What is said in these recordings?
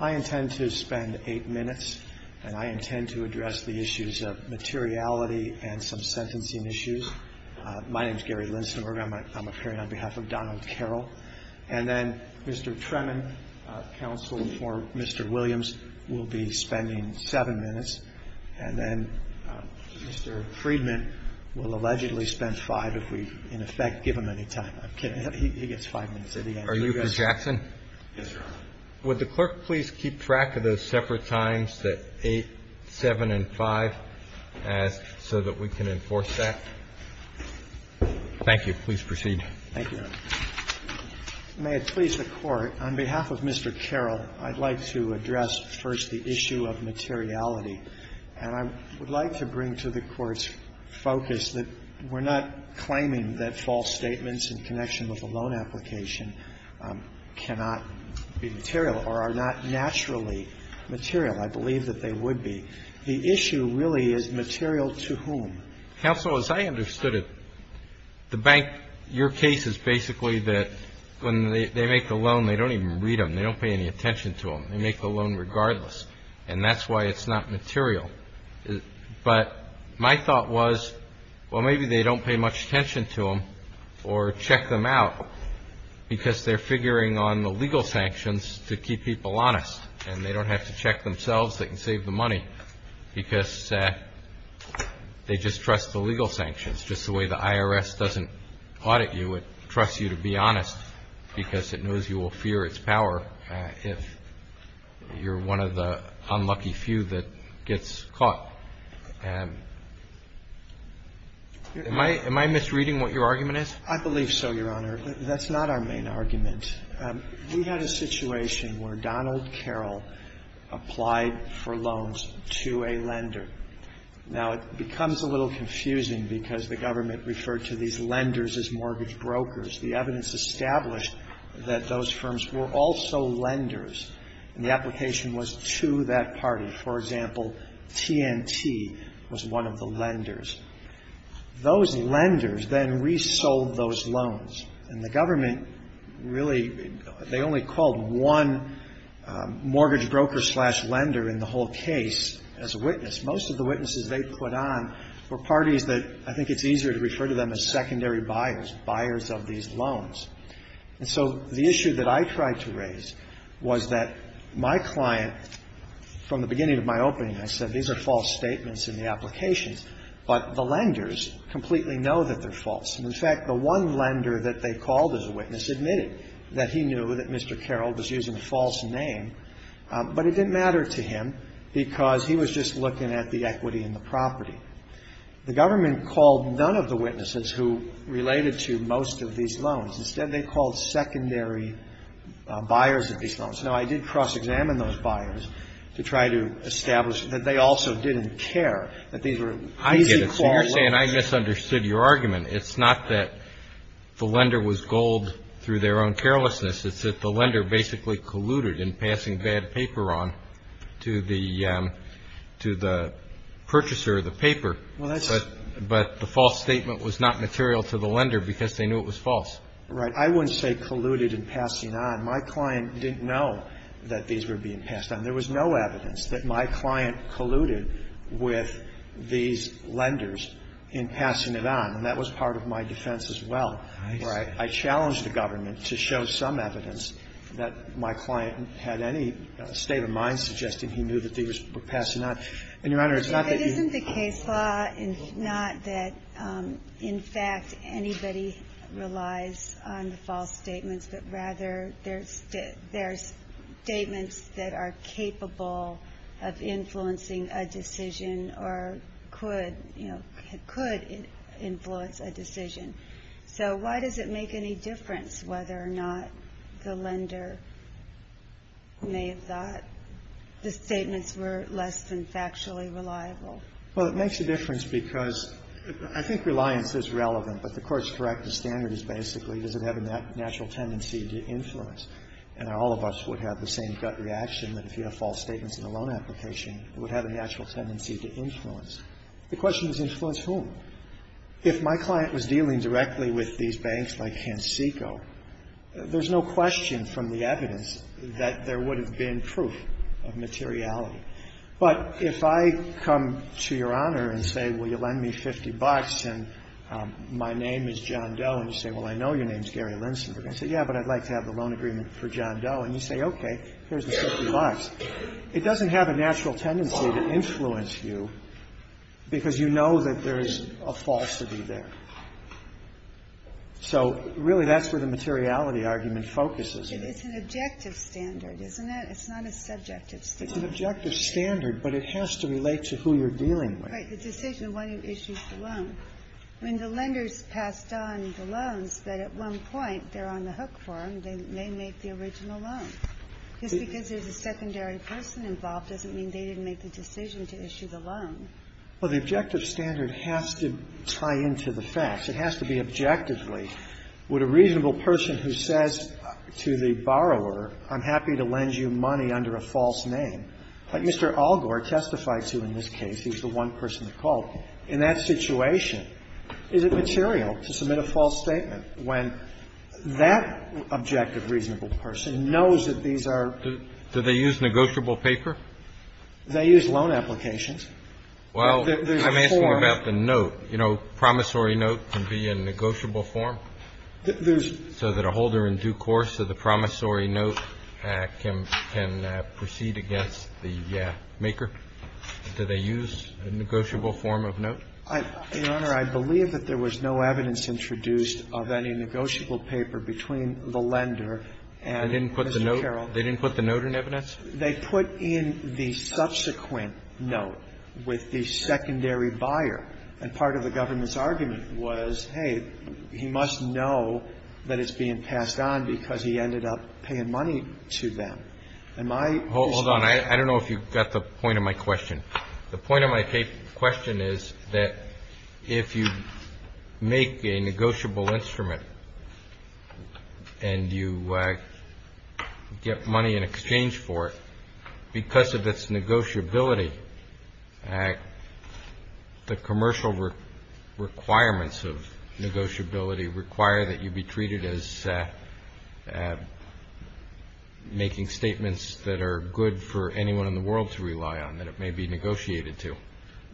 I intend to spend eight minutes, and I intend to address the issues of materiality and some sentencing issues. My name is Gary Linsenberger. I'm appearing on behalf of Donald Carroll. And then Mr. Tremin, counsel for Mr. Williams, will be spending seven minutes. And then Mr. Friedman will allegedly spend five if we, in effect, give him any time. I'm kidding. He gets five minutes at the end. Are you Mr. Jackson? Yes, Your Honor. Would the clerk please keep track of those separate times that 8, 7, and 5 ask so that we can enforce that? Thank you. Please proceed. Thank you, Your Honor. May it please the Court, on behalf of Mr. Carroll, I'd like to address first the issue of materiality. And I would like to bring to the Court's focus that we're not claiming that false statements in connection with a loan application cannot be material or are not naturally material. I believe that they would be. The issue really is material to whom? Counsel, as I understood it, the bank, your case is basically that when they make the loan, they don't even read them. They don't pay any attention to them. They make the loan regardless. And that's why it's not material. But my thought was, well, maybe they don't pay much attention to them or check them out because they're figuring on the legal sanctions to keep people honest and they don't have to check themselves. They can save the money because they just trust the legal sanctions. Just the way the IRS doesn't audit you, it trusts you to be honest because it knows you will fear its power if you're one of the unlucky few that gets caught. Am I misreading what your argument is? I believe so, Your Honor. That's not our main argument. We had a situation where Donald Carroll applied for loans to a lender. Now, it becomes a little confusing because the government referred to these lenders as mortgage brokers. The evidence established that those firms were also lenders, and the application was to that party. For example, TNT was one of the lenders. Those lenders then resold those loans, and the government really, they only called one mortgage broker slash lender in the whole case as a witness. Most of the witnesses they put on were parties that I think it's easier to refer to them as secondary buyers, buyers of these loans. And so the issue that I tried to raise was that my client, from the beginning of my opening, I said these are false statements in the applications, but the lenders completely know that they're false. And, in fact, the one lender that they called as a witness admitted that he knew that Mr. Carroll was using a false name, but it didn't matter to him because he was just looking at the equity in the property. The government called none of the witnesses who related to most of these loans. Instead, they called secondary buyers of these loans. Now, I did cross-examine those buyers to try to establish that they also didn't care, that these were easy call loans. I get it. So you're saying I misunderstood your argument. It's not that the lender was gold through their own carelessness. It's that the lender basically colluded in passing bad paper on to the purchaser of the paper. But the false statement was not material to the lender because they knew it was false. Right. I wouldn't say colluded in passing on. My client didn't know that these were being passed on. There was no evidence that my client colluded with these lenders in passing it on. And that was part of my defense as well. I see. I don't have any evidence that my client had any state of mind suggesting he knew that these were passing on. And, Your Honor, it's not that you — But isn't the case law not that, in fact, anybody relies on the false statements, but rather there's statements that are capable of influencing a decision or could, you know, could influence a decision? So why does it make any difference whether or not the lender may have thought the statements were less than factually reliable? Well, it makes a difference because I think reliance is relevant. But the court is correct. The standard is basically does it have a natural tendency to influence. And all of us would have the same gut reaction that if you have false statements in a loan application, it would have a natural tendency to influence. The question is influence whom? If my client was dealing directly with these banks like Hansiko, there's no question from the evidence that there would have been proof of materiality. But if I come to Your Honor and say, well, you'll lend me 50 bucks and my name is John Doe, and you say, well, I know your name is Gary Linsenberg. I say, yeah, but I'd like to have the loan agreement for John Doe. And you say, okay, here's the 50 bucks. It doesn't have a natural tendency to influence you because you know that there is a falsity there. So, really, that's where the materiality argument focuses. It's an objective standard, isn't it? It's not a subjective standard. It's an objective standard, but it has to relate to who you're dealing with. Right. The decision why you issued the loan. I mean, the lenders passed on the loans, but at one point they're on the hook for them. They make the original loan. Just because there's a secondary person involved doesn't mean they didn't make the decision to issue the loan. Well, the objective standard has to tie into the facts. It has to be objectively. Would a reasonable person who says to the borrower, I'm happy to lend you money under a false name, like Mr. Algor testified to in this case, he's the one person that called, in that situation, is it material to submit a false statement when that objective reasonable person knows that these are. Do they use negotiable paper? They use loan applications. Well, I'm asking about the note. You know, promissory note can be a negotiable form. There's. So that a holder in due course of the promissory note can proceed against the maker. Do they use a negotiable form of note? Your Honor, I believe that there was no evidence introduced of any negotiable paper between the lender and Mr. Carroll. They didn't put the note in evidence? They put in the subsequent note with the secondary buyer. And part of the government's argument was, hey, he must know that it's being passed on because he ended up paying money to them. And my position. Hold on. I don't know if you got the point of my question. The point of my question is that if you make a negotiable instrument and you get money in exchange for it because of its negotiability, the commercial requirements of negotiability require that you be treated as making statements that are good for anyone in the world to rely on, that it may be negotiated to.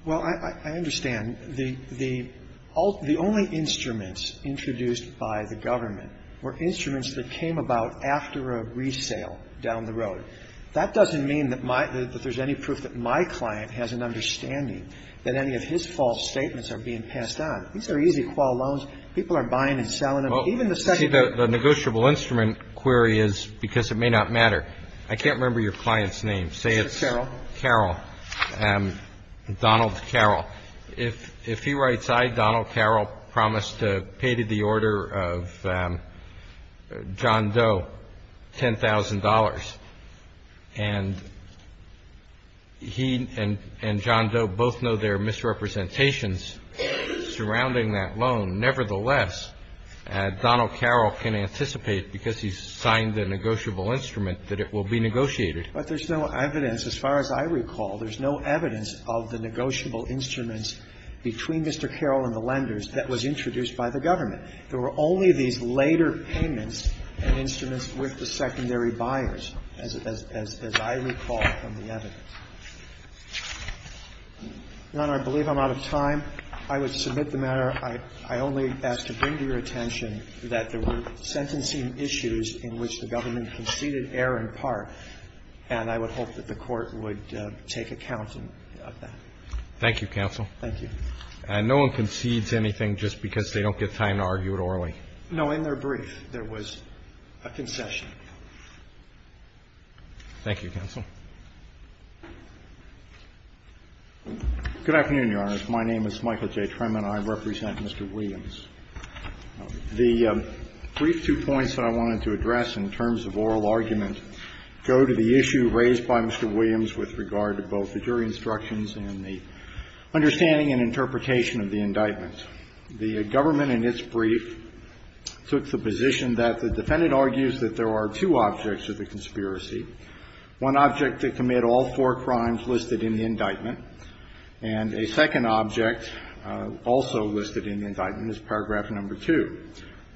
Well, I understand. The only instruments introduced by the government were instruments that came about after a resale down the road. That doesn't mean that there's any proof that my client has an understanding that any of his false statements are being passed on. These are easy qual loans. People are buying and selling them. Well, see, the negotiable instrument query is because it may not matter. I can't remember your client's name. Say it's Carroll, Donald Carroll. If he writes, I, Donald Carroll, promise to pay to the order of John Doe $10,000, and he and John Doe both know there are misrepresentations surrounding that loan. Nevertheless, Donald Carroll can anticipate, because he's signed the negotiable instrument, that it will be negotiated. But there's no evidence. As far as I recall, there's no evidence of the negotiable instruments between Mr. Carroll and the lenders that was introduced by the government. There were only these later payments and instruments with the secondary buyers, as I recall from the evidence. Your Honor, I believe I'm out of time. I would submit the matter. I only ask to bring to your attention that there were sentencing issues in which the government conceded error in part, and I would hope that the Court would take account of that. Thank you, counsel. Thank you. And no one concedes anything just because they don't get time to argue it orally? In their brief, there was a concession. Thank you, counsel. Good afternoon, Your Honor. My name is Michael J. Tremann, and I represent Mr. Williams. The brief two points that I wanted to address in terms of oral argument go to the issue raised by Mr. Williams with regard to both the jury instructions and the understanding and interpretation of the indictment. The government in its brief took the position that the defendant argues that there are two objects of the conspiracy. One object to commit all four crimes listed in the indictment, and a second object also listed in the indictment is paragraph number 2.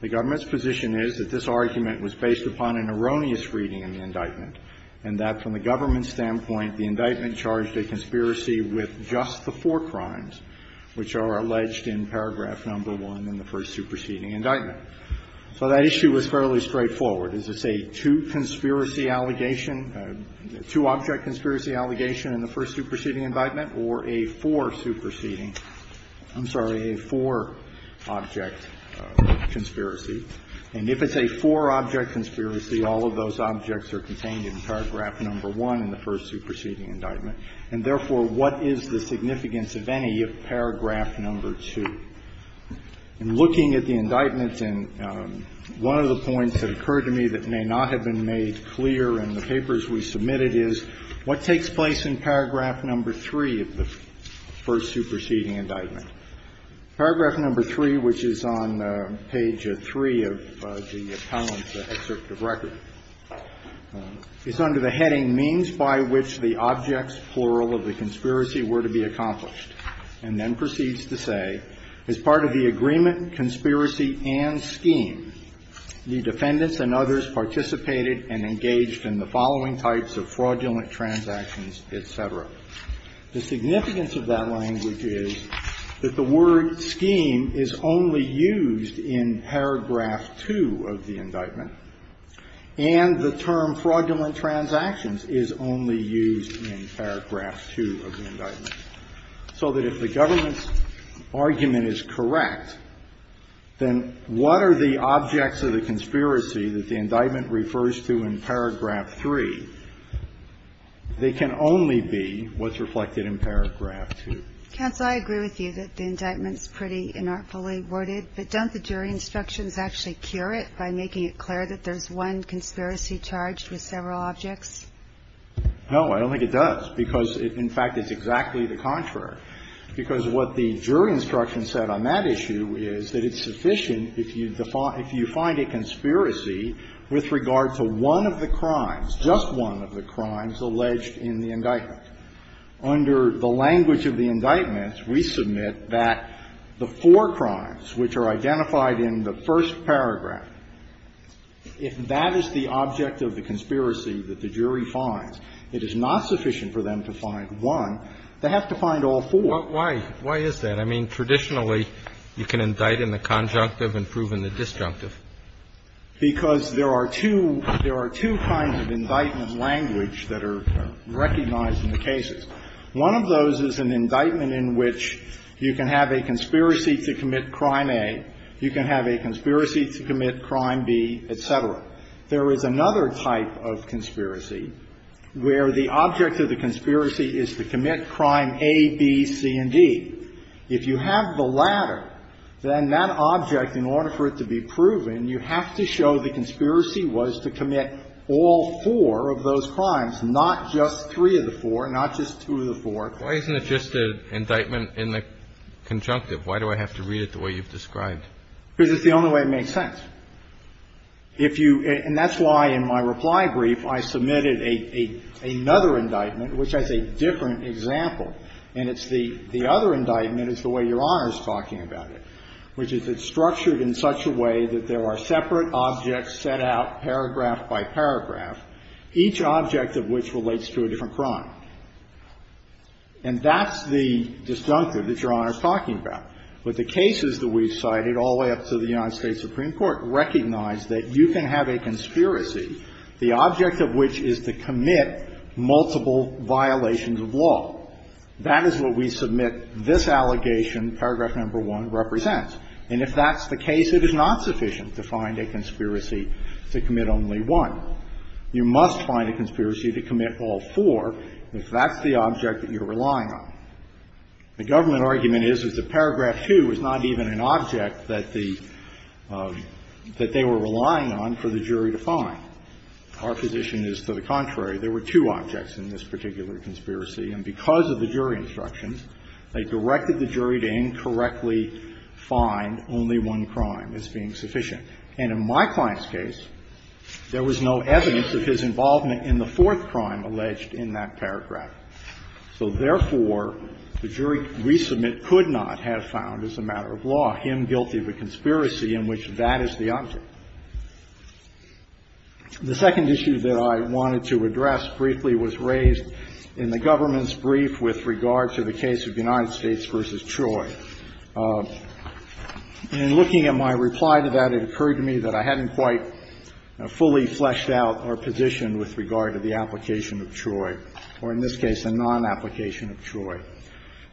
The government's position is that this argument was based upon an erroneous reading in the indictment, and that from the government's standpoint, the indictment charged a conspiracy with just the four crimes which are alleged in paragraph number 1 in the first superseding indictment. So that issue was fairly straightforward. Is this a two-conspiracy allegation, a two-object conspiracy allegation in the first superseding indictment, or a four-superseding? I'm sorry, a four-object conspiracy. And if it's a four-object conspiracy, all of those objects are contained in paragraph number 1 in the first superseding indictment. And therefore, what is the significance of any of paragraph number 2? In looking at the indictments, and one of the points that occurred to me that may not have been made clear in the papers we submitted is, what takes place in paragraph number 3 of the first superseding indictment? Paragraph number 3, which is on page 3 of the appellant's excerpt of record, is under the heading, means by which the objects, plural, of the conspiracy were to be accomplished, and then proceeds to say, as part of the agreement, conspiracy, and scheme, the defendants and others participated and engaged in the following types of fraudulent transactions, et cetera. The significance of that language is that the word scheme is only used in paragraph 2 of the indictment, and the term fraudulent transactions is only used in paragraph 2 of the indictment, so that if the government's argument is correct, then what are the objects of the conspiracy that the indictment refers to in paragraph 3? They can only be what's reflected in paragraph 2. Kagan. Counsel, I agree with you that the indictment's pretty inartfully worded, but don't the jury instructions actually cure it by making it clear that there's one conspiracy charged with several objects? No, I don't think it does, because it, in fact, is exactly the contrary. Because what the jury instruction said on that issue is that it's sufficient if you find a conspiracy with regard to one of the crimes, just one of the crimes, alleged in the indictment. Under the language of the indictment, we submit that the four crimes which are identified in the first paragraph, if that is the object of the conspiracy that the jury finds, it is not sufficient for them to find one. They have to find all four. Why is that? I mean, traditionally, you can indict in the conjunctive and prove in the disjunctive. Because there are two kinds of indictment language that are recognized in the cases. One of those is an indictment in which you can have a conspiracy to commit crime A, you can have a conspiracy to commit crime B, et cetera. There is another type of conspiracy where the object of the conspiracy is to commit crime A, B, C, and D. If you have the latter, then that object, in order for it to be proven, you have to show the conspiracy was to commit all four of those crimes, not just three of the four, not just two of the four. Why isn't it just an indictment in the conjunctive? Why do I have to read it the way you've described? Because it's the only way it makes sense. If you – and that's why in my reply brief, I submitted another indictment, which has a different example. And it's the other indictment is the way Your Honor is talking about it, which is it's structured in such a way that there are separate objects set out paragraph by paragraph, each object of which relates to a different crime. And that's the disjunctive that Your Honor is talking about. But the cases that we've cited all the way up to the United States Supreme Court recognize that you can have a conspiracy, the object of which is to commit multiple violations of law. That is what we submit this allegation, paragraph number 1, represents. And if that's the case, it is not sufficient to find a conspiracy to commit only one. You must find a conspiracy to commit all four if that's the object that you're relying on. The government argument is that the paragraph 2 is not even an object that the – that they were relying on for the jury to find. Our position is to the contrary. There were two objects in this particular conspiracy. And because of the jury instruction, they directed the jury to incorrectly find only one crime as being sufficient. And in my client's case, there was no evidence of his involvement in the fourth crime alleged in that paragraph. So, therefore, the jury resubmit could not have found, as a matter of law, him guilty of a conspiracy in which that is the object. The second issue that I wanted to address briefly was raised in the government's brief with regard to the case of United States v. Troy. In looking at my reply to that, it occurred to me that I hadn't quite fully fleshed out our position with regard to the application of Troy, or in this case, a non-application of Troy.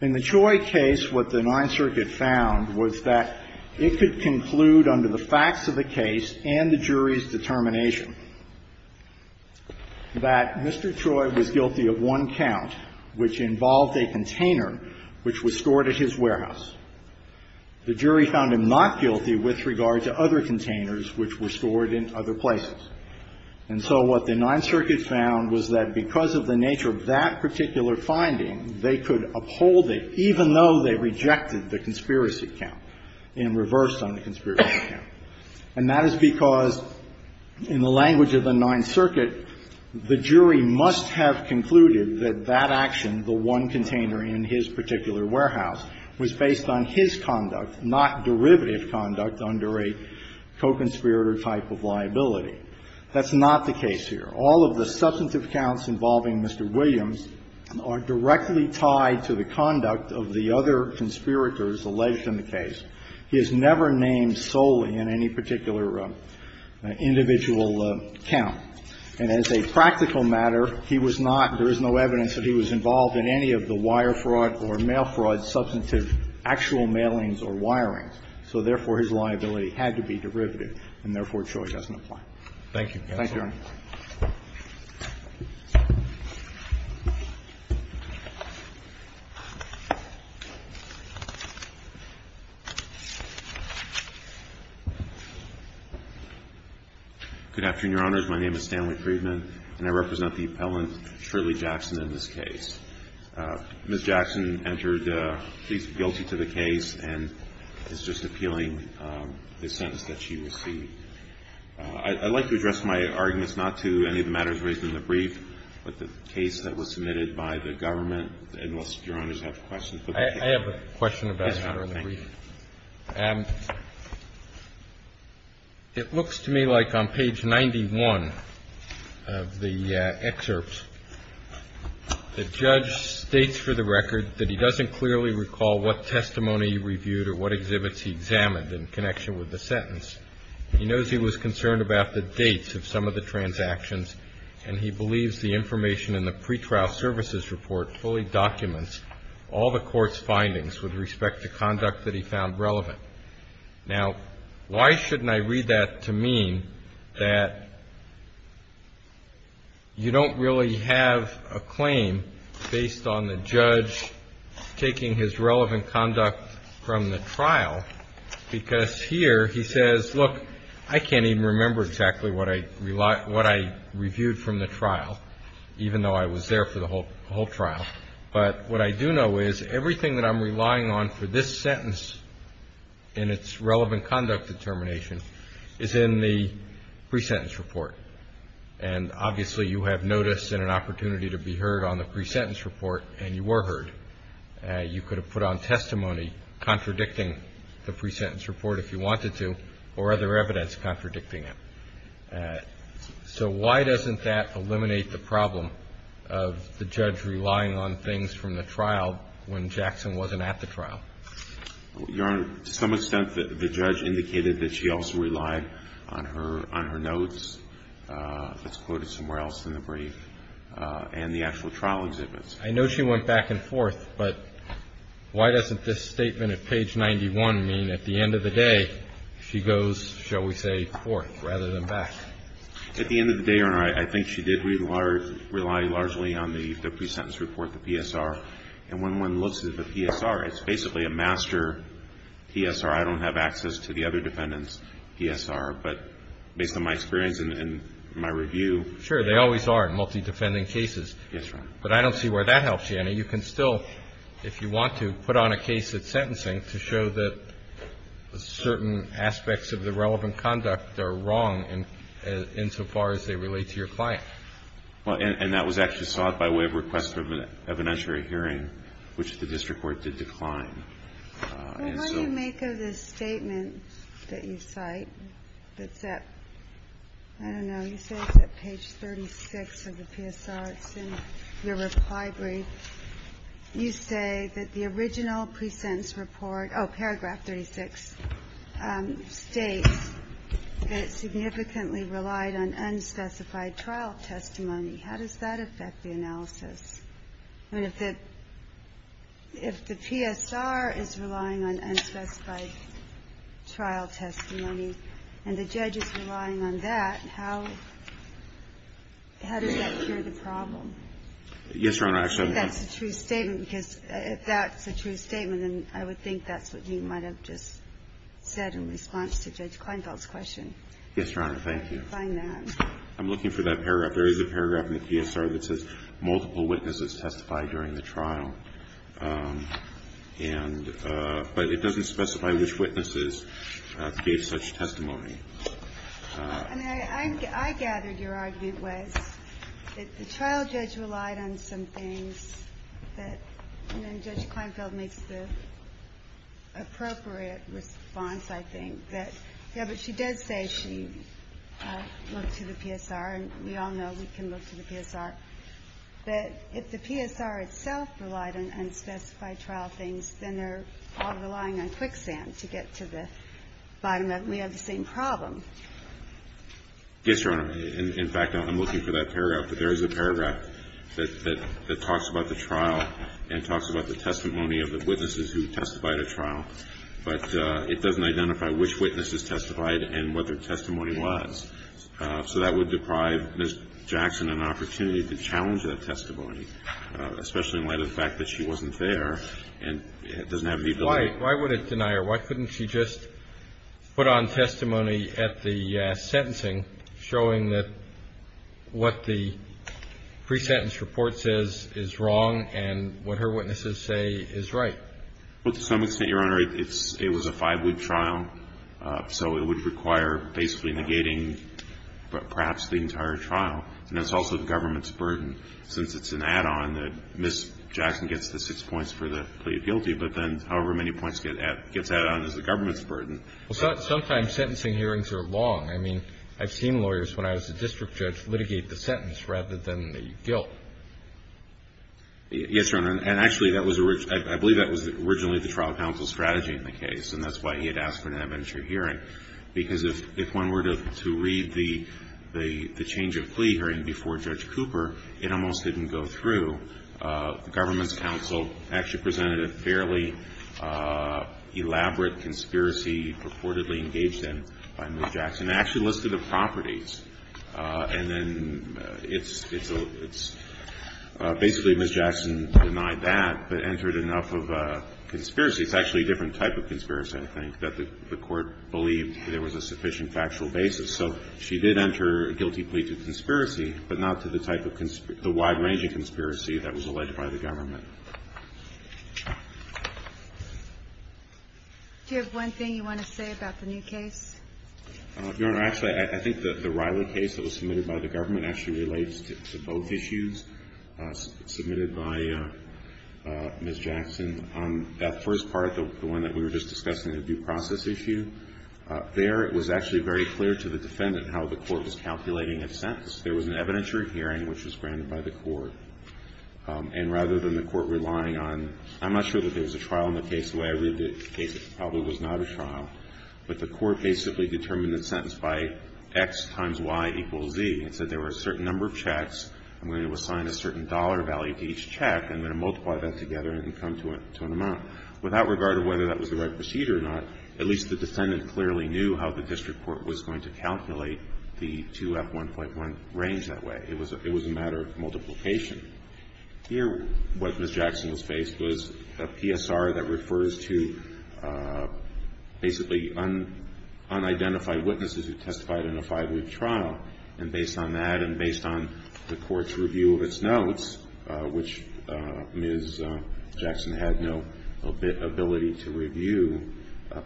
In the Troy case, what the Ninth Circuit found was that it could conclude under the facts of the case and the jury's determination that Mr. Troy was guilty of one count, which involved a container which was stored at his warehouse. The jury found him not guilty with regard to other containers which were stored in other places. And so what the Ninth Circuit found was that because of the nature of that particular finding, they could uphold it even though they rejected the conspiracy count and reversed on the conspiracy count. And that is because, in the language of the Ninth Circuit, the jury must have concluded that that action, the one container in his particular warehouse, was based on his conduct, not derivative conduct under a co-conspirator type of liability. That's not the case here. All of the substantive counts involving Mr. Williams are directly tied to the conduct of the other conspirators alleged in the case. He is never named solely in any particular individual count. And as a practical matter, he was not, there is no evidence that he was involved in any of the wire fraud or mail fraud substantive actual mailings or wirings. So therefore, his liability had to be derivative, and therefore, Troy doesn't apply. Thank you, Your Honor. Good afternoon, Your Honors. My name is Stanley Friedman, and I represent the appellant, Shirley Jackson, in this case. Ms. Jackson entered, please be guilty to the case, and is just appealing the sentence that she received. I'd like to address my arguments not to any of the matters raised in the brief, but the case that was submitted by the government. Unless Your Honors have questions. I have a question about it. Yes, Your Honor. Thank you. It looks to me like on page 91 of the excerpts, the judge states for the record that he doesn't clearly recall what testimony he reviewed or what exhibits he examined in connection with the sentence. He knows he was concerned about the dates of some of the transactions, and he believes the information in the pretrial services report fully documents all the court's findings with respect to conduct that he found relevant. Now, why shouldn't I read that to mean that you don't really have a claim based on the I can't even remember exactly what I reviewed from the trial, even though I was there for the whole trial. But what I do know is everything that I'm relying on for this sentence in its relevant conduct determination is in the pre-sentence report. And obviously you have notice and an opportunity to be heard on the pre-sentence report, and you were heard. You could have put on testimony contradicting the pre-sentence report if you wanted to, or other evidence contradicting it. So why doesn't that eliminate the problem of the judge relying on things from the trial when Jackson wasn't at the trial? Your Honor, to some extent the judge indicated that she also relied on her notes that's quoted somewhere else in the brief and the actual trial exhibits. I know she went back and forth, but why doesn't this statement at page 91 mean at the end of the day she goes, shall we say, forth rather than back? At the end of the day, Your Honor, I think she did rely largely on the pre-sentence report, the PSR. And when one looks at the PSR, it's basically a master PSR. I don't have access to the other defendants' PSR. But based on my experience and my review. Sure, they always are in multi-defending cases. Yes, Your Honor. But I don't see where that helps you. I mean, you can still, if you want to, put on a case at sentencing to show that certain aspects of the relevant conduct are wrong insofar as they relate to your client. Well, and that was actually sought by way of request of an evidentiary hearing, which the district court did decline. And so. Well, how do you make of the statement that you cite that's at, I don't know, you say that page 36 of the PSR, it's in your reply brief. You say that the original pre-sentence report, oh, paragraph 36, states that it significantly relied on unspecified trial testimony. How does that affect the analysis? I mean, if the PSR is relying on unspecified trial testimony and the judge is relying on that, how does that cure the problem? Yes, Your Honor. Actually, that's a true statement, because if that's a true statement, then I would think that's what you might have just said in response to Judge Kleinfeld's question. Yes, Your Honor. Thank you. I'm looking for that paragraph. There is a paragraph in the PSR that says multiple witnesses testified during the trial. And but it doesn't specify which witnesses gave such testimony. I mean, I gathered your argument was that the trial judge relied on some things that, you know, Judge Kleinfeld makes the appropriate response, I think, that, yes, but she does say she looked to the PSR, and we all know we can look to the PSR. But if the PSR itself relied on unspecified trial things, then they're all relying on quicksand to get to the bottom of it, and we have the same problem. Yes, Your Honor. In fact, I'm looking for that paragraph. But there is a paragraph that talks about the trial and talks about the testimony of the witnesses who testified at trial, but it doesn't identify which witnesses testified and what their testimony was. So that would deprive Ms. Jackson an opportunity to challenge that testimony, especially in light of the fact that she wasn't there and doesn't have the ability Why would it deny her? Why couldn't she just put on testimony at the sentencing showing that what the pre-sentence report says is wrong and what her witnesses say is right? Well, to some extent, Your Honor, it was a five-week trial, so it would require basically negating perhaps the entire trial. And that's also the government's burden, since it's an add-on that Ms. Jackson gets the six points for the plea of guilty, but then however many points gets added on is the government's burden. Well, sometimes sentencing hearings are long. I mean, I've seen lawyers, when I was a district judge, litigate the sentence rather than the guilt. Yes, Your Honor. And actually, that was originally the trial counsel's strategy in the case, and that's why he had asked for an adventure hearing, because if one were to read the change of plea hearing before Judge Cooper, it almost didn't go through. The government's counsel actually presented a fairly elaborate conspiracy purportedly engaged in by Ms. Jackson. It actually listed the properties, and then it's basically Ms. Jackson denied that but entered enough of a conspiracy. It's actually a different type of conspiracy, I think, that the court believed there was a sufficient factual basis. So she did enter a guilty plea to conspiracy, but not to the type of the wide-ranging conspiracy that was alleged by the government. Do you have one thing you want to say about the new case? Your Honor, actually, I think that the Riley case that was submitted by the government actually relates to both issues submitted by Ms. Jackson. That first part, the one that we were just discussing, the due process issue, there it was actually very clear to the defendant how the court was calculating its sentence. There was an adventure hearing which was granted by the court, and rather than the court relying on – I'm not sure that there was a trial in the case the way I read the case. It probably was not a trial. But the court basically determined its sentence by X times Y equals Z. It said there were a certain number of checks, and we're going to assign a certain dollar value to each check, and then multiply that together and come to an amount. Without regard to whether that was the right procedure or not, at least the defendant clearly knew how the district court was going to calculate the 2F1.1 range that way. It was a matter of multiplication. Here, what Ms. Jackson was faced was a PSR that refers to basically unidentified witnesses who testified in a five-week trial. And based on that and based on the court's review of its notes, which Ms. Jackson had no ability to review,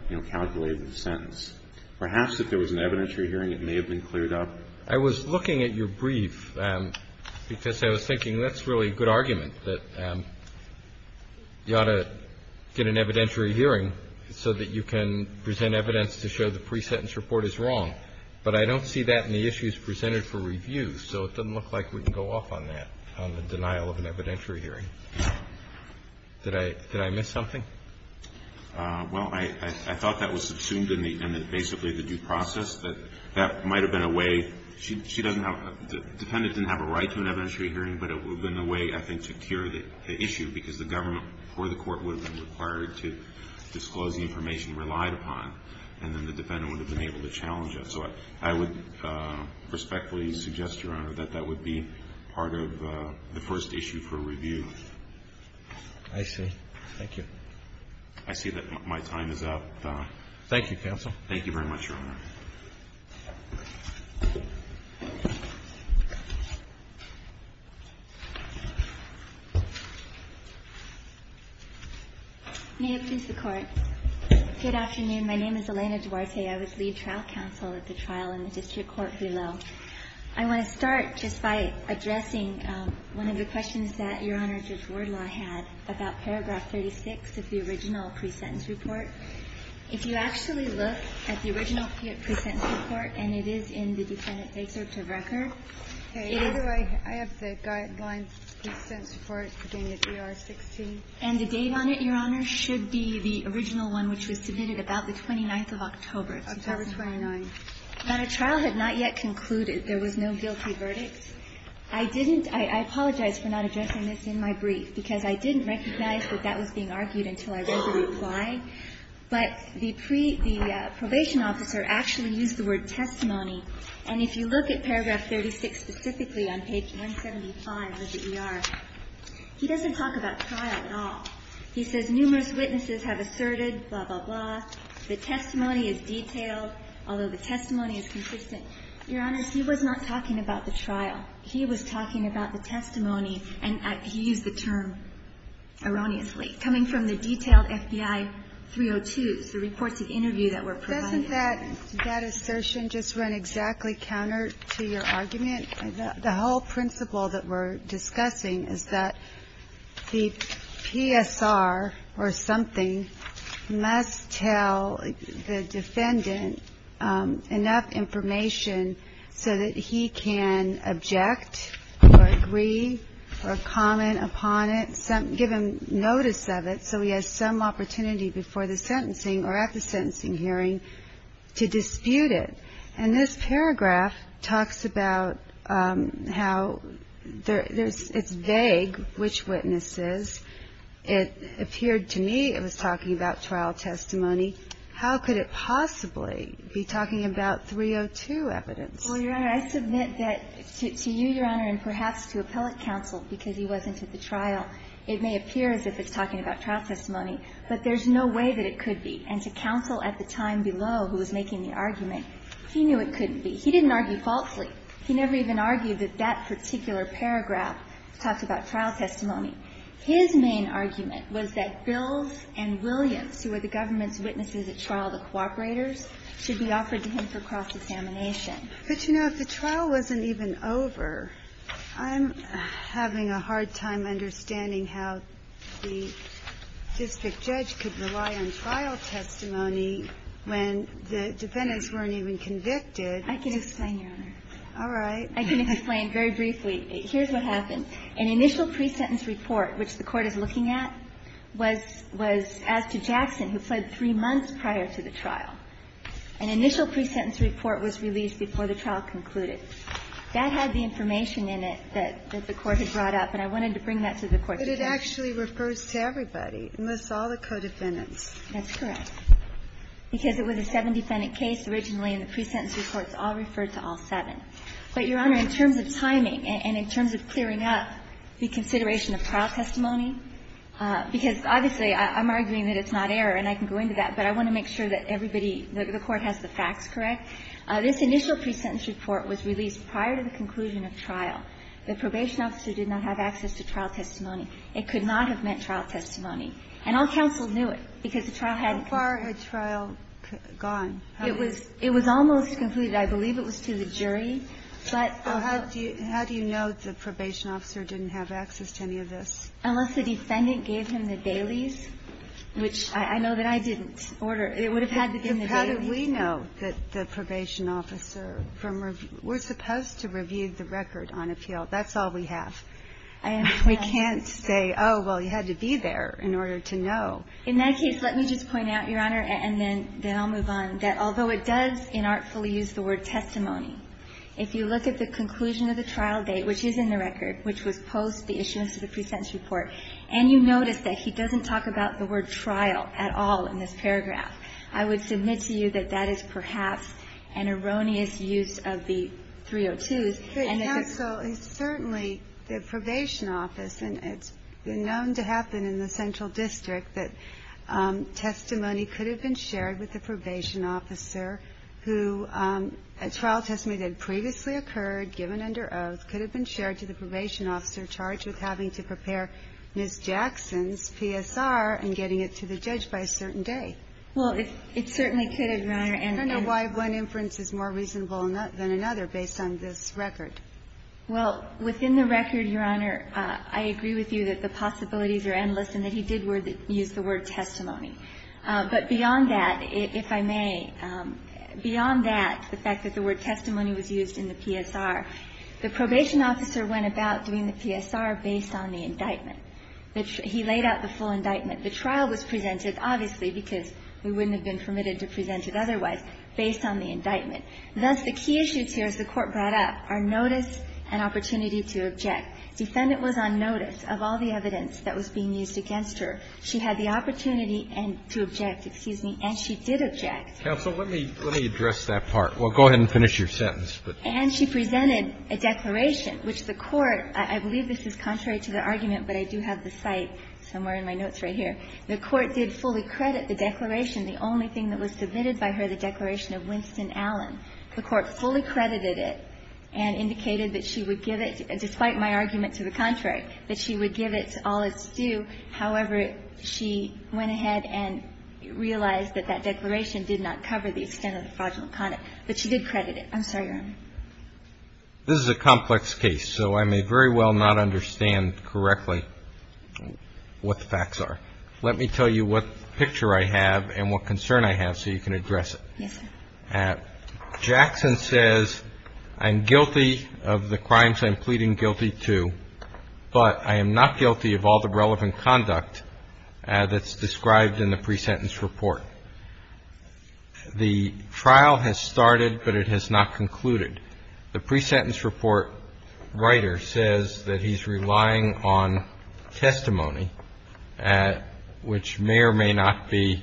you know, calculate the sentence, perhaps if there was an evidentiary hearing, it may have been cleared up. I was looking at your brief because I was thinking that's really a good argument, that you ought to get an evidentiary hearing so that you can present evidence to show the pre-sentence report is wrong. But I don't see that in the issues presented for review. So it doesn't look like we can go off on that, on the denial of an evidentiary hearing. Did I miss something? Well, I thought that was subsumed in basically the due process, that that might have been a way. She doesn't have – the defendant didn't have a right to an evidentiary hearing, but it would have been a way, I think, to cure the issue because the government or the court would have been required to disclose the information relied upon, and then the defendant would have been able to challenge it. So I would respectfully suggest, Your Honor, that that would be part of the first issue for review. I see. Thank you. I see that my time is up. Thank you, counsel. Thank you very much, Your Honor. May it please the Court. Good afternoon. My name is Elena Duarte. I was lead trial counsel at the trial in the district court below. I want to start just by addressing one of the questions that Your Honor, Judge Wardlaw had about paragraph 36 of the original pre-sentence report. If you actually look at the original pre-sentence report, and it is in the defendant's excerpt of record, it is – Okay. Either way, I have the guidelines of the pre-sentence report, beginning with ER 16. And the date on it, Your Honor, should be the original one which was submitted about the 29th of October. October 29th. And a trial had not yet concluded. There was no guilty verdict. I didn't – I apologize for not addressing this in my brief, because I didn't recognize that that was being argued until I read the reply. But the pre – the probation officer actually used the word testimony. And if you look at paragraph 36 specifically on page 175 of the ER, he doesn't talk about trial at all. He says numerous witnesses have asserted, blah, blah, blah. The testimony is detailed, although the testimony is consistent. Your Honor, he was not talking about the trial. He was talking about the testimony, and he used the term erroneously, coming from the detailed FBI 302s, the reports of interview that were provided. Doesn't that assertion just run exactly counter to your argument? The whole principle that we're discussing is that the PSR or something must tell the defendant enough information so that he can object or agree or comment upon it, give him notice of it so he has some opportunity before the sentencing or at the sentencing hearing to dispute it. And this paragraph talks about how there's – it's vague, which witnesses. It appeared to me it was talking about trial testimony. How could it possibly be talking about 302 evidence? Well, Your Honor, I submit that to you, Your Honor, and perhaps to appellate counsel, because he wasn't at the trial, it may appear as if it's talking about trial testimony. But there's no way that it could be. And to counsel at the time below who was making the argument, he knew it couldn't be. He didn't argue falsely. He never even argued that that particular paragraph talked about trial testimony. His main argument was that Bills and Williams, who were the government's witnesses at trial, the cooperators, should be offered to him for cross-examination. But, you know, if the trial wasn't even over, I'm having a hard time understanding how the district judge could rely on trial testimony when the defendants weren't even convicted. I can explain, Your Honor. All right. I can explain very briefly. Here's what happened. An initial pre-sentence report, which the Court is looking at, was as to Jackson, who fled three months prior to the trial. An initial pre-sentence report was released before the trial concluded. That had the information in it that the Court had brought up, and I wanted to bring that to the Court today. But it actually refers to everybody, unless all the co-defendants. That's correct. Because it was a seven-defendant case originally, and the pre-sentence report's all referred to all seven. But, Your Honor, in terms of timing and in terms of clearing up the consideration of trial testimony, because obviously I'm arguing that it's not error and I can go into that, but I want to make sure that everybody, the Court has the facts correct, this initial pre-sentence report was released prior to the conclusion of trial. The probation officer did not have access to trial testimony. It could not have meant trial testimony. And all counsel knew it, because the trial hadn't been concluded. How far had trial gone? It was almost concluded. I believe it was to the jury. But also How do you know the probation officer didn't have access to any of this? Unless the defendant gave him the dailies, which I know that I didn't order. It would have had to have been the dailies. But how do we know that the probation officer from review we're supposed to review the record on appeal. That's all we have. We can't say, oh, well, you had to be there in order to know. In that case, let me just point out, Your Honor, and then I'll move on, that although it does inartfully use the word testimony, if you look at the conclusion of the trial date, which is in the record, which was post the issuance of the pre-sentence report, and you notice that he doesn't talk about the word trial at all in this paragraph, I would submit to you that that is perhaps an erroneous use of the 302s. And that the ---- But, counsel, certainly the probation office, and it's been known to happen in the central district that testimony could have been shared with the probation officer who a trial testimony that previously occurred, given under oath, could have been shared to the probation officer charged with having to prepare Ms. Jackson's PSR and getting it to the judge by a certain day. Well, it certainly could have, Your Honor. I don't know why one inference is more reasonable than another based on this record. Well, within the record, Your Honor, I agree with you that the possibilities are endless and that he did use the word testimony. But beyond that, if I may, beyond that, the fact that the word testimony was used in the PSR, the probation officer went about doing the PSR based on the indictment. He laid out the full indictment. The trial was presented, obviously, because we wouldn't have been permitted to present it otherwise, based on the indictment. Thus, the key issues here, as the Court brought up, are notice and opportunity to object. Defendant was on notice of all the evidence that was being used against her. She had the opportunity and to object, excuse me, and she did object. Counsel, let me address that part. Well, go ahead and finish your sentence. And she presented a declaration, which the Court, I believe this is contrary to the argument, but I do have the cite somewhere in my notes right here. The Court did fully credit the declaration. The only thing that was submitted by her, the declaration of Winston Allen. The Court fully credited it and indicated that she would give it, despite my argument to the contrary, that she would give it all its due. However, she went ahead and realized that that declaration did not cover the extent of the fraudulent conduct. But she did credit it. I'm sorry, Your Honor. This is a complex case, so I may very well not understand correctly what the facts are. Let me tell you what picture I have and what concern I have so you can address it. Yes, sir. Jackson says, I'm guilty of the crimes I'm pleading guilty to, but I am not guilty of all the relevant conduct that's described in the pre-sentence report. The trial has started, but it has not concluded. The pre-sentence report writer says that he's relying on testimony, which may or may not be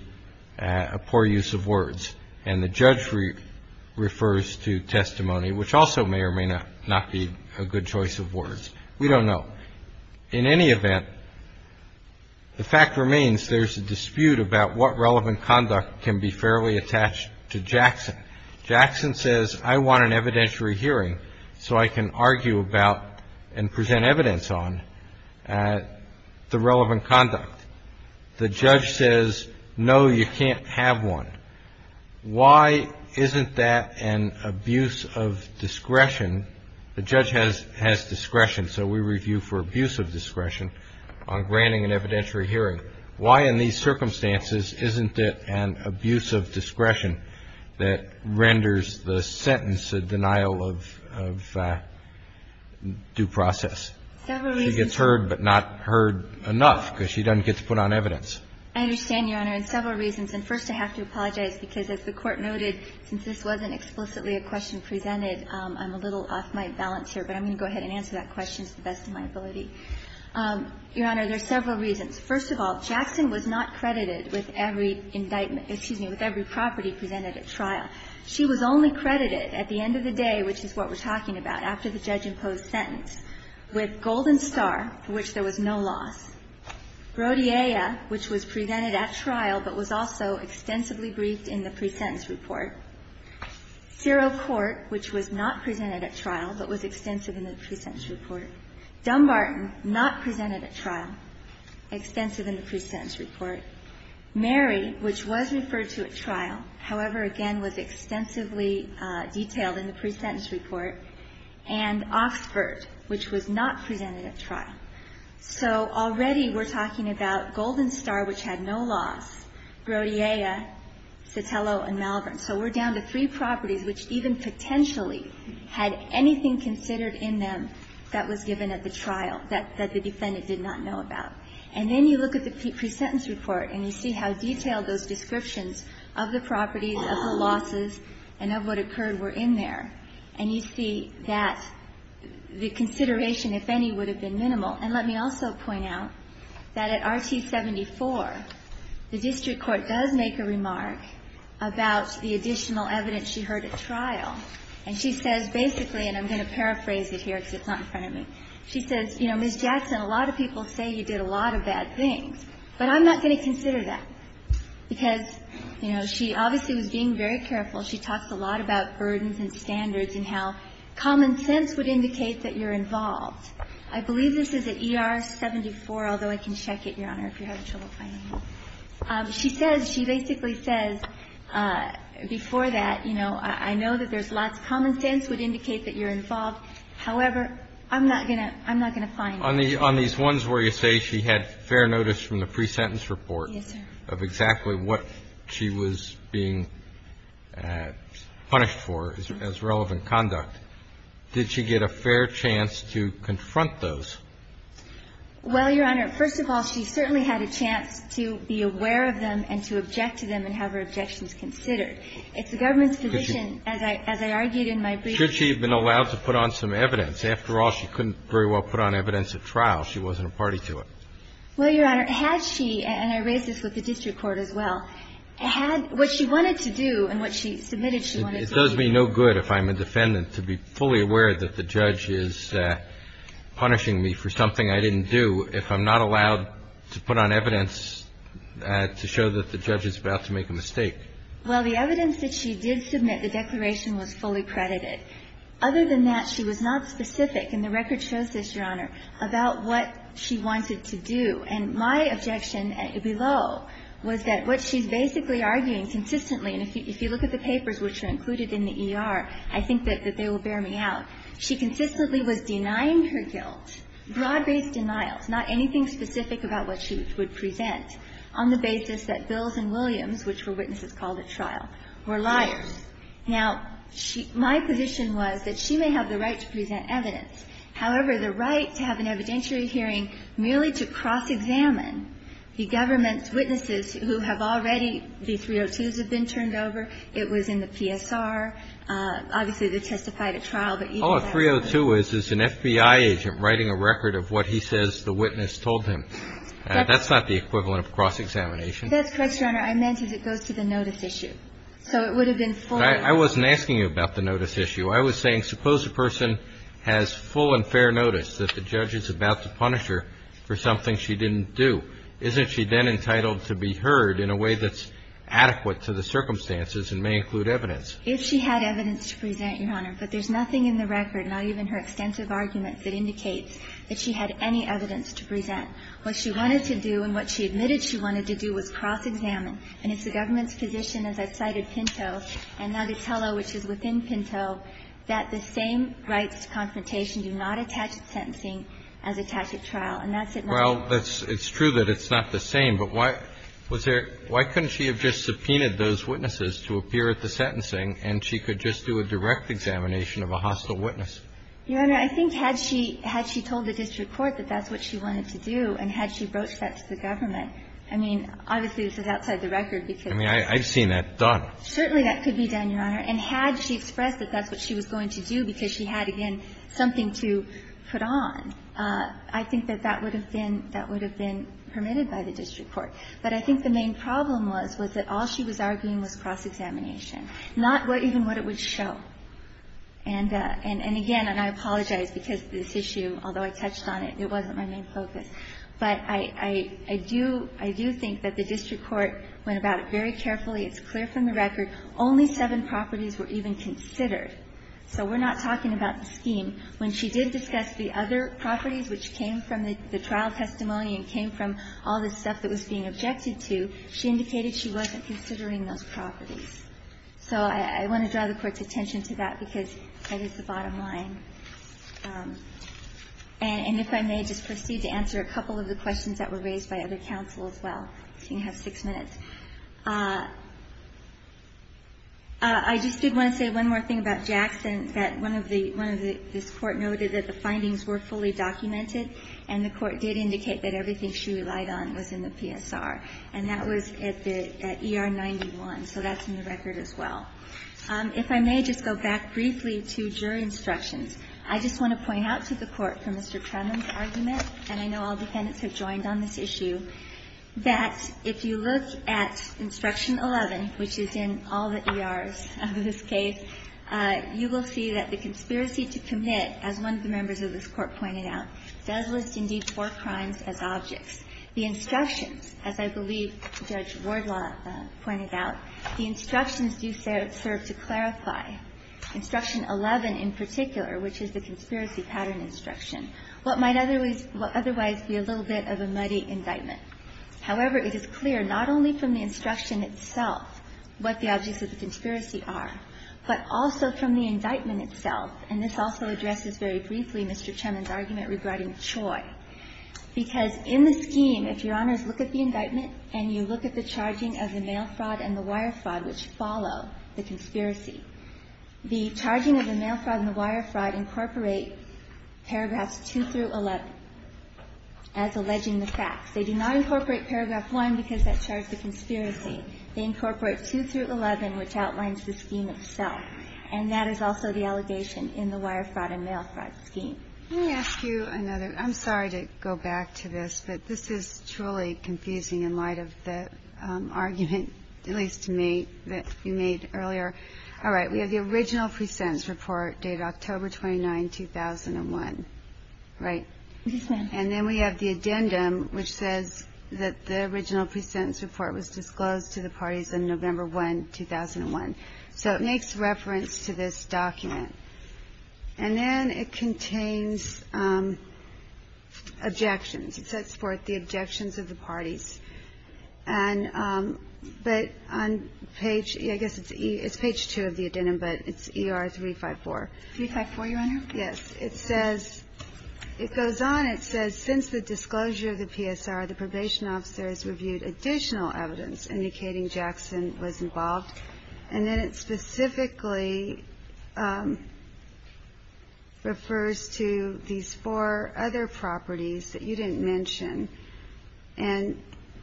a poor use of words. And the judge refers to testimony, which also may or may not be a good choice of words. We don't know. In any event, the fact remains there's a dispute about what relevant conduct can be fairly attached to Jackson. Jackson says, I want an evidentiary hearing so I can argue about and present evidence on the relevant conduct. The judge says, no, you can't have one. Why isn't that an abuse of discretion? The judge has discretion, so we review for abuse of discretion on granting an evidentiary hearing. Why in these circumstances isn't it an abuse of discretion that renders the sentence a denial of due process? Several reasons. She gets heard but not heard enough because she doesn't get to put on evidence. I understand, Your Honor, and several reasons. And first I have to apologize because as the Court noted, since this wasn't explicitly a question presented, I'm a little off my balance here. But I'm going to go ahead and answer that question to the best of my ability. Your Honor, there's several reasons. First of all, Jackson was not credited with every indictment – excuse me, with every property presented at trial. She was only credited at the end of the day, which is what we're talking about, after the judge imposed sentence, with Golden Star, for which there was no loss, Brodia, which was presented at trial but was also extensively briefed in the pre-sentence report. Cerro Court, which was not presented at trial but was extensive in the pre-sentence report. Dumbarton, not presented at trial, extensive in the pre-sentence report. Mary, which was referred to at trial, however, again, was extensively detailed in the pre-sentence report. And Oxford, which was not presented at trial. So already we're talking about Golden Star, which had no loss, Brodia, Sotelo, and Malvern. So we're down to three properties which even potentially had anything considered in them that was given at the trial that the defendant did not know about. And then you look at the pre-sentence report and you see how detailed those descriptions of the properties, of the losses, and of what occurred were in there. And you see that the consideration, if any, would have been minimal. And let me also point out that at RT74, the district court does make a remark about the additional evidence she heard at trial. And she says basically, and I'm going to paraphrase it here because it's not in front of me, she says, you know, Ms. Jackson, a lot of people say you did a lot of bad things, but I'm not going to consider that. Because, you know, she obviously was being very careful. She talks a lot about burdens and standards and how common sense would indicate that you're involved. I believe this is at ER74, although I can check it, Your Honor, if you're having trouble finding it. She says, she basically says before that, you know, I know that there's lots of common sense would indicate that you're involved. However, I'm not going to find it. On these ones where you say she had fair notice from the pre-sentence report of exactly what she was being punished for as relevant conduct, did she get a fair chance to confront those? Well, Your Honor, first of all, she certainly had a chance to be aware of them and to object to them and have her objections considered. It's the government's position, as I argued in my brief. Should she have been allowed to put on some evidence? After all, she couldn't very well put on evidence at trial. She wasn't a party to it. Well, Your Honor, had she, and I raise this with the district court as well, had what she wanted to do and what she submitted she wanted to do. It does me no good if I'm a defendant to be fully aware that the judge is punishing me for something I didn't do if I'm not allowed to put on evidence to show that the judge is about to make a mistake. Well, the evidence that she did submit, the declaration was fully credited. Other than that, she was not specific, and the record shows this, Your Honor, about what she wanted to do. And my objection below was that what she's basically arguing consistently, and if you look at the papers which are included in the ER, I think that they will bear me out. She consistently was denying her guilt, broad-based denials, not anything specific about what she would present, on the basis that Bills and Williams, which were witnesses called at trial, were liars. Now, my position was that she may have the right to present evidence. However, the right to have an evidentiary hearing merely to cross-examine the government's witnesses who have already, the 302s have been turned over. It was in the PSR. Obviously, they testified at trial, but even that was not the case. All a 302 is is an FBI agent writing a record of what he says the witness told him. That's not the equivalent of cross-examination. That's correct, Your Honor. I meant as it goes to the notice issue. So it would have been fully. I wasn't asking you about the notice issue. I was saying suppose a person has full and fair notice that the judge is about to punish her for something she didn't do. Isn't she then entitled to be heard in a way that's adequate to the circumstances and may include evidence? If she had evidence to present, Your Honor. But there's nothing in the record, not even her extensive arguments, that indicates that she had any evidence to present. What she wanted to do and what she admitted she wanted to do was cross-examine. And it's the government's position, as I've cited Pinto and Natatello, which is within the scope of the trial. And that's it. Well, it's true that it's not the same. But why couldn't she have just subpoenaed those witnesses to appear at the sentencing and she could just do a direct examination of a hostile witness? Your Honor, I think had she told the district court that that's what she wanted to do and had she broached that to the government, I mean, obviously this is outside the record because. I mean, I've seen that done. Certainly that could be done, Your Honor. And had she expressed that that's what she was going to do because she had, again, something to put on, I think that that would have been permitted by the district court. But I think the main problem was, was that all she was arguing was cross-examination, not even what it would show. And again, and I apologize because this issue, although I touched on it, it wasn't my main focus. But I do think that the district court went about it very carefully. It's clear from the record. Only seven properties were even considered. So we're not talking about the scheme. When she did discuss the other properties, which came from the trial testimony and came from all the stuff that was being objected to, she indicated she wasn't considering those properties. So I want to draw the Court's attention to that because that is the bottom line. And if I may just proceed to answer a couple of the questions that were raised by other counsel as well. You have six minutes. I just did want to say one more thing about Jackson, that one of the, one of the, this Court noted that the findings were fully documented. And the Court did indicate that everything she relied on was in the PSR. And that was at the, at ER 91. So that's in the record as well. If I may just go back briefly to jury instructions. I just want to point out to the Court, from Mr. Trenum's argument, and I know all of you, that at Instruction 11, which is in all the ERs of this case, you will see that the conspiracy to commit, as one of the members of this Court pointed out, does list indeed four crimes as objects. The instructions, as I believe Judge Wardlaw pointed out, the instructions do serve to clarify, Instruction 11 in particular, which is the conspiracy pattern instruction, what might otherwise be a little bit of a muddy indictment. However, it is clear not only from the instruction itself what the objects of the conspiracy are, but also from the indictment itself. And this also addresses very briefly Mr. Trenum's argument regarding Choi. Because in the scheme, if Your Honors look at the indictment and you look at the charging of the mail fraud and the wire fraud which follow the conspiracy, the charging of the mail fraud and the wire fraud incorporate paragraphs 2 through 11 as alleging the facts. They do not incorporate paragraph 1 because that charged the conspiracy. They incorporate 2 through 11, which outlines the scheme itself. And that is also the allegation in the wire fraud and mail fraud scheme. Let me ask you another. I'm sorry to go back to this, but this is truly confusing in light of the argument, at least to me, that you made earlier. All right. We have the original free sentence report dated October 29, 2001, right? Yes, ma'am. And then we have the addendum which says that the original free sentence report was disclosed to the parties on November 1, 2001. So it makes reference to this document. And then it contains objections. It says for the objections of the parties. And but on page ‑‑ I guess it's page 2 of the addendum, but it's ER354. 354, Your Honor? Yes. It says ‑‑ it goes on. It says since the disclosure of the PSR, the probation officers reviewed additional evidence indicating Jackson was involved. And then it specifically refers to these four other properties that you didn't mention. And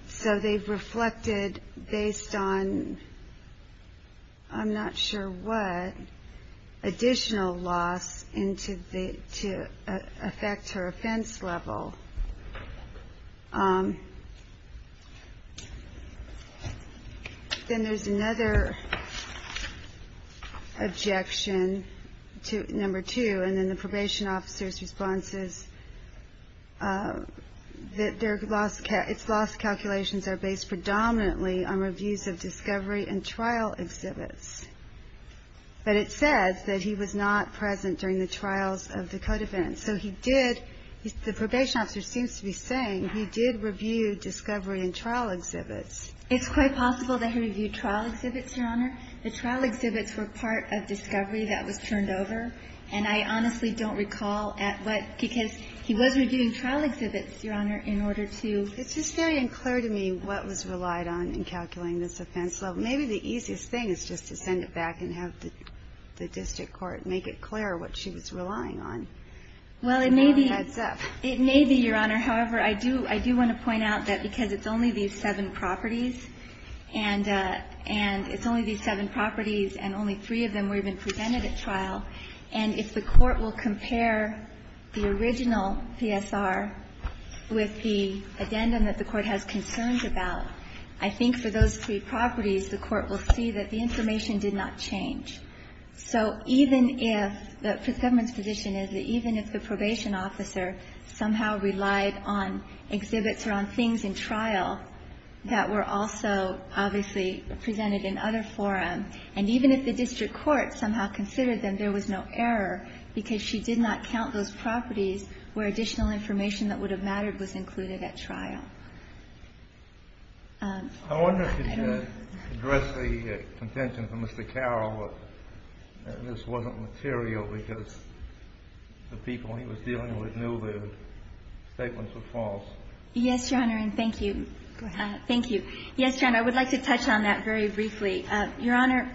so they've reflected based on I'm not sure what additional loss to affect her offense level. Then there's another objection, number two, and then the probation officer's response is that their loss calculations are based predominantly on reviews of discovery and trial exhibits. But it says that he was not present during the trials of the co‑defendants. And so he did ‑‑ the probation officer seems to be saying he did review discovery and trial exhibits. It's quite possible that he reviewed trial exhibits, Your Honor. The trial exhibits were part of discovery that was turned over. And I honestly don't recall at what ‑‑ because he was reviewing trial exhibits, Your Honor, in order to ‑‑ It's just very unclear to me what was relied on in calculating this offense level. Maybe the easiest thing is just to send it back and have the district court make it clear what she was relying on. Well, it may be, Your Honor. However, I do want to point out that because it's only these seven properties, and it's only these seven properties and only three of them were even presented at trial, and if the court will compare the original PSR with the addendum that the court has concerns about, I think for those three properties, the court will see that the information did not change. So even if ‑‑ the government's position is that even if the probation officer somehow relied on exhibits or on things in trial that were also obviously presented in other forum, and even if the district court somehow considered them, there was no error because she did not count those properties where additional information that would have mattered was included at trial. I wonder if you could address the contention from Mr. Carroll that this wasn't material because the people he was dealing with knew their statements were false. Yes, Your Honor, and thank you. Thank you. Yes, Your Honor, I would like to touch on that very briefly. Your Honor,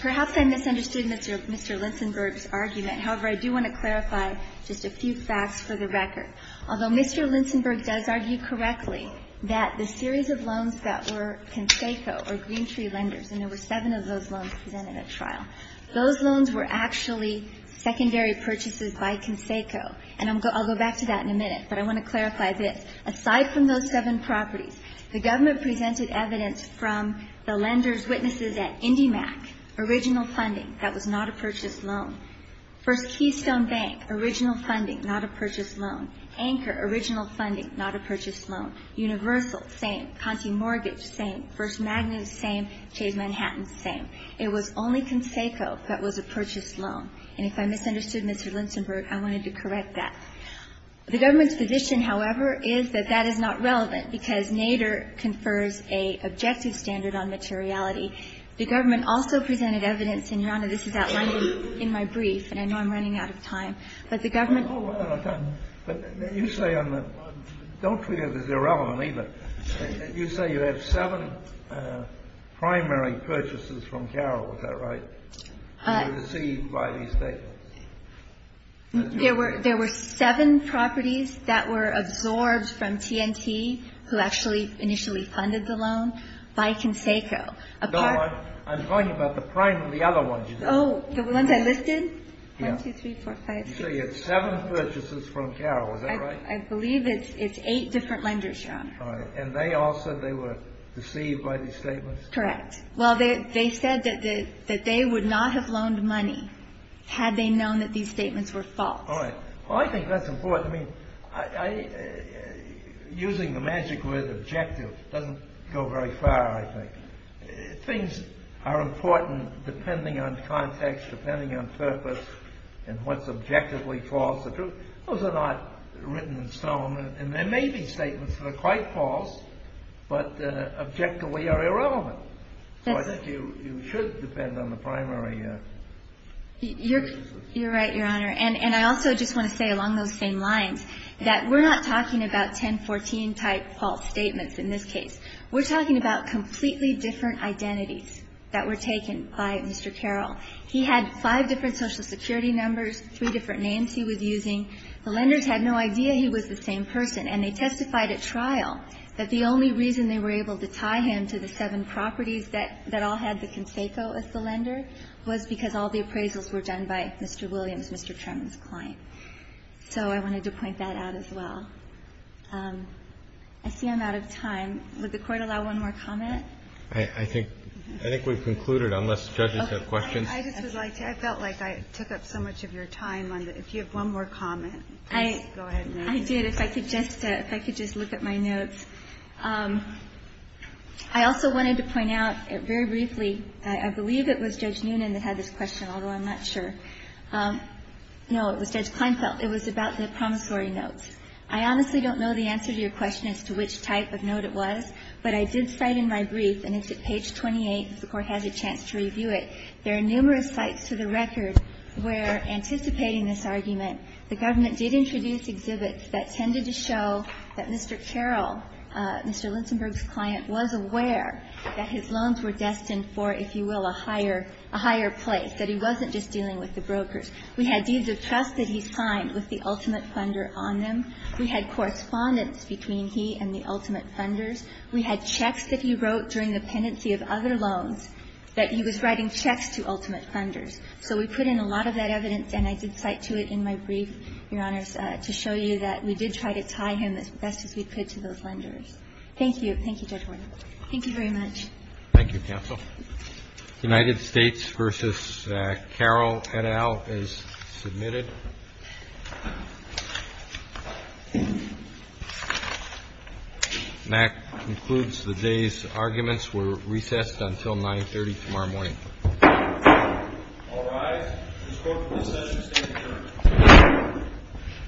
perhaps I misunderstood Mr. Linsenberg's argument. However, I do want to clarify just a few facts for the record. Although Mr. Linsenberg does argue correctly that the series of loans that were Conseco or Green Tree lenders, and there were seven of those loans presented at trial, those loans were actually secondary purchases by Conseco. And I'll go back to that in a minute, but I want to clarify this. Aside from those seven properties, the government presented evidence from the lender's witnesses at IndyMac, original funding, that was not a purchased loan. First Keystone Bank, original funding, not a purchased loan. Anchor, original funding, not a purchased loan. Universal, same. Conti Mortgage, same. First Magnus, same. Chase Manhattan, same. It was only Conseco that was a purchased loan. And if I misunderstood Mr. Linsenberg, I wanted to correct that. The government's position, however, is that that is not relevant, because Nader confers a objective standard on materiality. The government also presented evidence, and Your Honor, this is outlined in my brief, and I know I'm running out of time, but the government. But you say on the, don't treat it as irrelevant either. You say you have seven primary purchases from Carroll. Is that right? Received by these statements. There were seven properties that were absorbed from T&T, who actually initially funded the loan, by Conseco. No, I'm talking about the other ones you listed. Oh, the ones I listed? One, two, three, four, five, six. You say you have seven purchases from Carroll. Is that right? I believe it's eight different lenders, Your Honor. All right. And they all said they were deceived by these statements? Correct. Well, they said that they would not have loaned money had they known that these statements were false. All right. Well, I think that's important. I mean, using the magic word objective doesn't go very far, I think. Things are important depending on context, depending on purpose, and what's objectively false. Those are not written in stone. And there may be statements that are quite false, but objectively are irrelevant. So I think you should depend on the primary purchases. You're right, Your Honor. And I also just want to say along those same lines that we're not talking about 1014-type false statements in this case. We're talking about completely different identities that were taken by Mr. Carroll. He had five different Social Security numbers, three different names he was using. The lenders had no idea he was the same person. And they testified at trial that the only reason they were able to tie him to the seven properties that all had the conseco as the lender was because all the appraisals were done by Mr. Williams, Mr. Tremon's client. So I wanted to point that out as well. I see I'm out of time. Would the Court allow one more comment? I think we've concluded, unless judges have questions. I just would like to. I felt like I took up so much of your time. If you have one more comment, please go ahead. I did. If I could just look at my notes. I also wanted to point out very briefly, I believe it was Judge Noonan that had this question, although I'm not sure. No, it was Judge Kleinfeld. It was about the promissory notes. I honestly don't know the answer to your question as to which type of note it was, but I did cite in my brief, and it's at page 28, if the Court has a chance to review it, there are numerous sites to the record where, anticipating this argument, the government did introduce exhibits that tended to show that Mr. Carroll, Mr. Linsenburg's client, was aware that his loans were destined for, if you will, a higher place, that he wasn't just dealing with the brokers. We had deeds of trust that he signed with the ultimate funder on them. We had correspondence between he and the ultimate funders. We had checks that he wrote during the pendency of other loans that he was writing checks to ultimate funders. So we put in a lot of that evidence, and I did cite to it in my brief, Your Honors, to show you that we did try to tie him as best as we could to those lenders. Thank you. Thank you very much. Thank you, counsel. United States v. Carroll, et al., is submitted. And that concludes the day's arguments. We're recessed until 9.30 tomorrow morning. All rise. This Court for this session stands adjourned.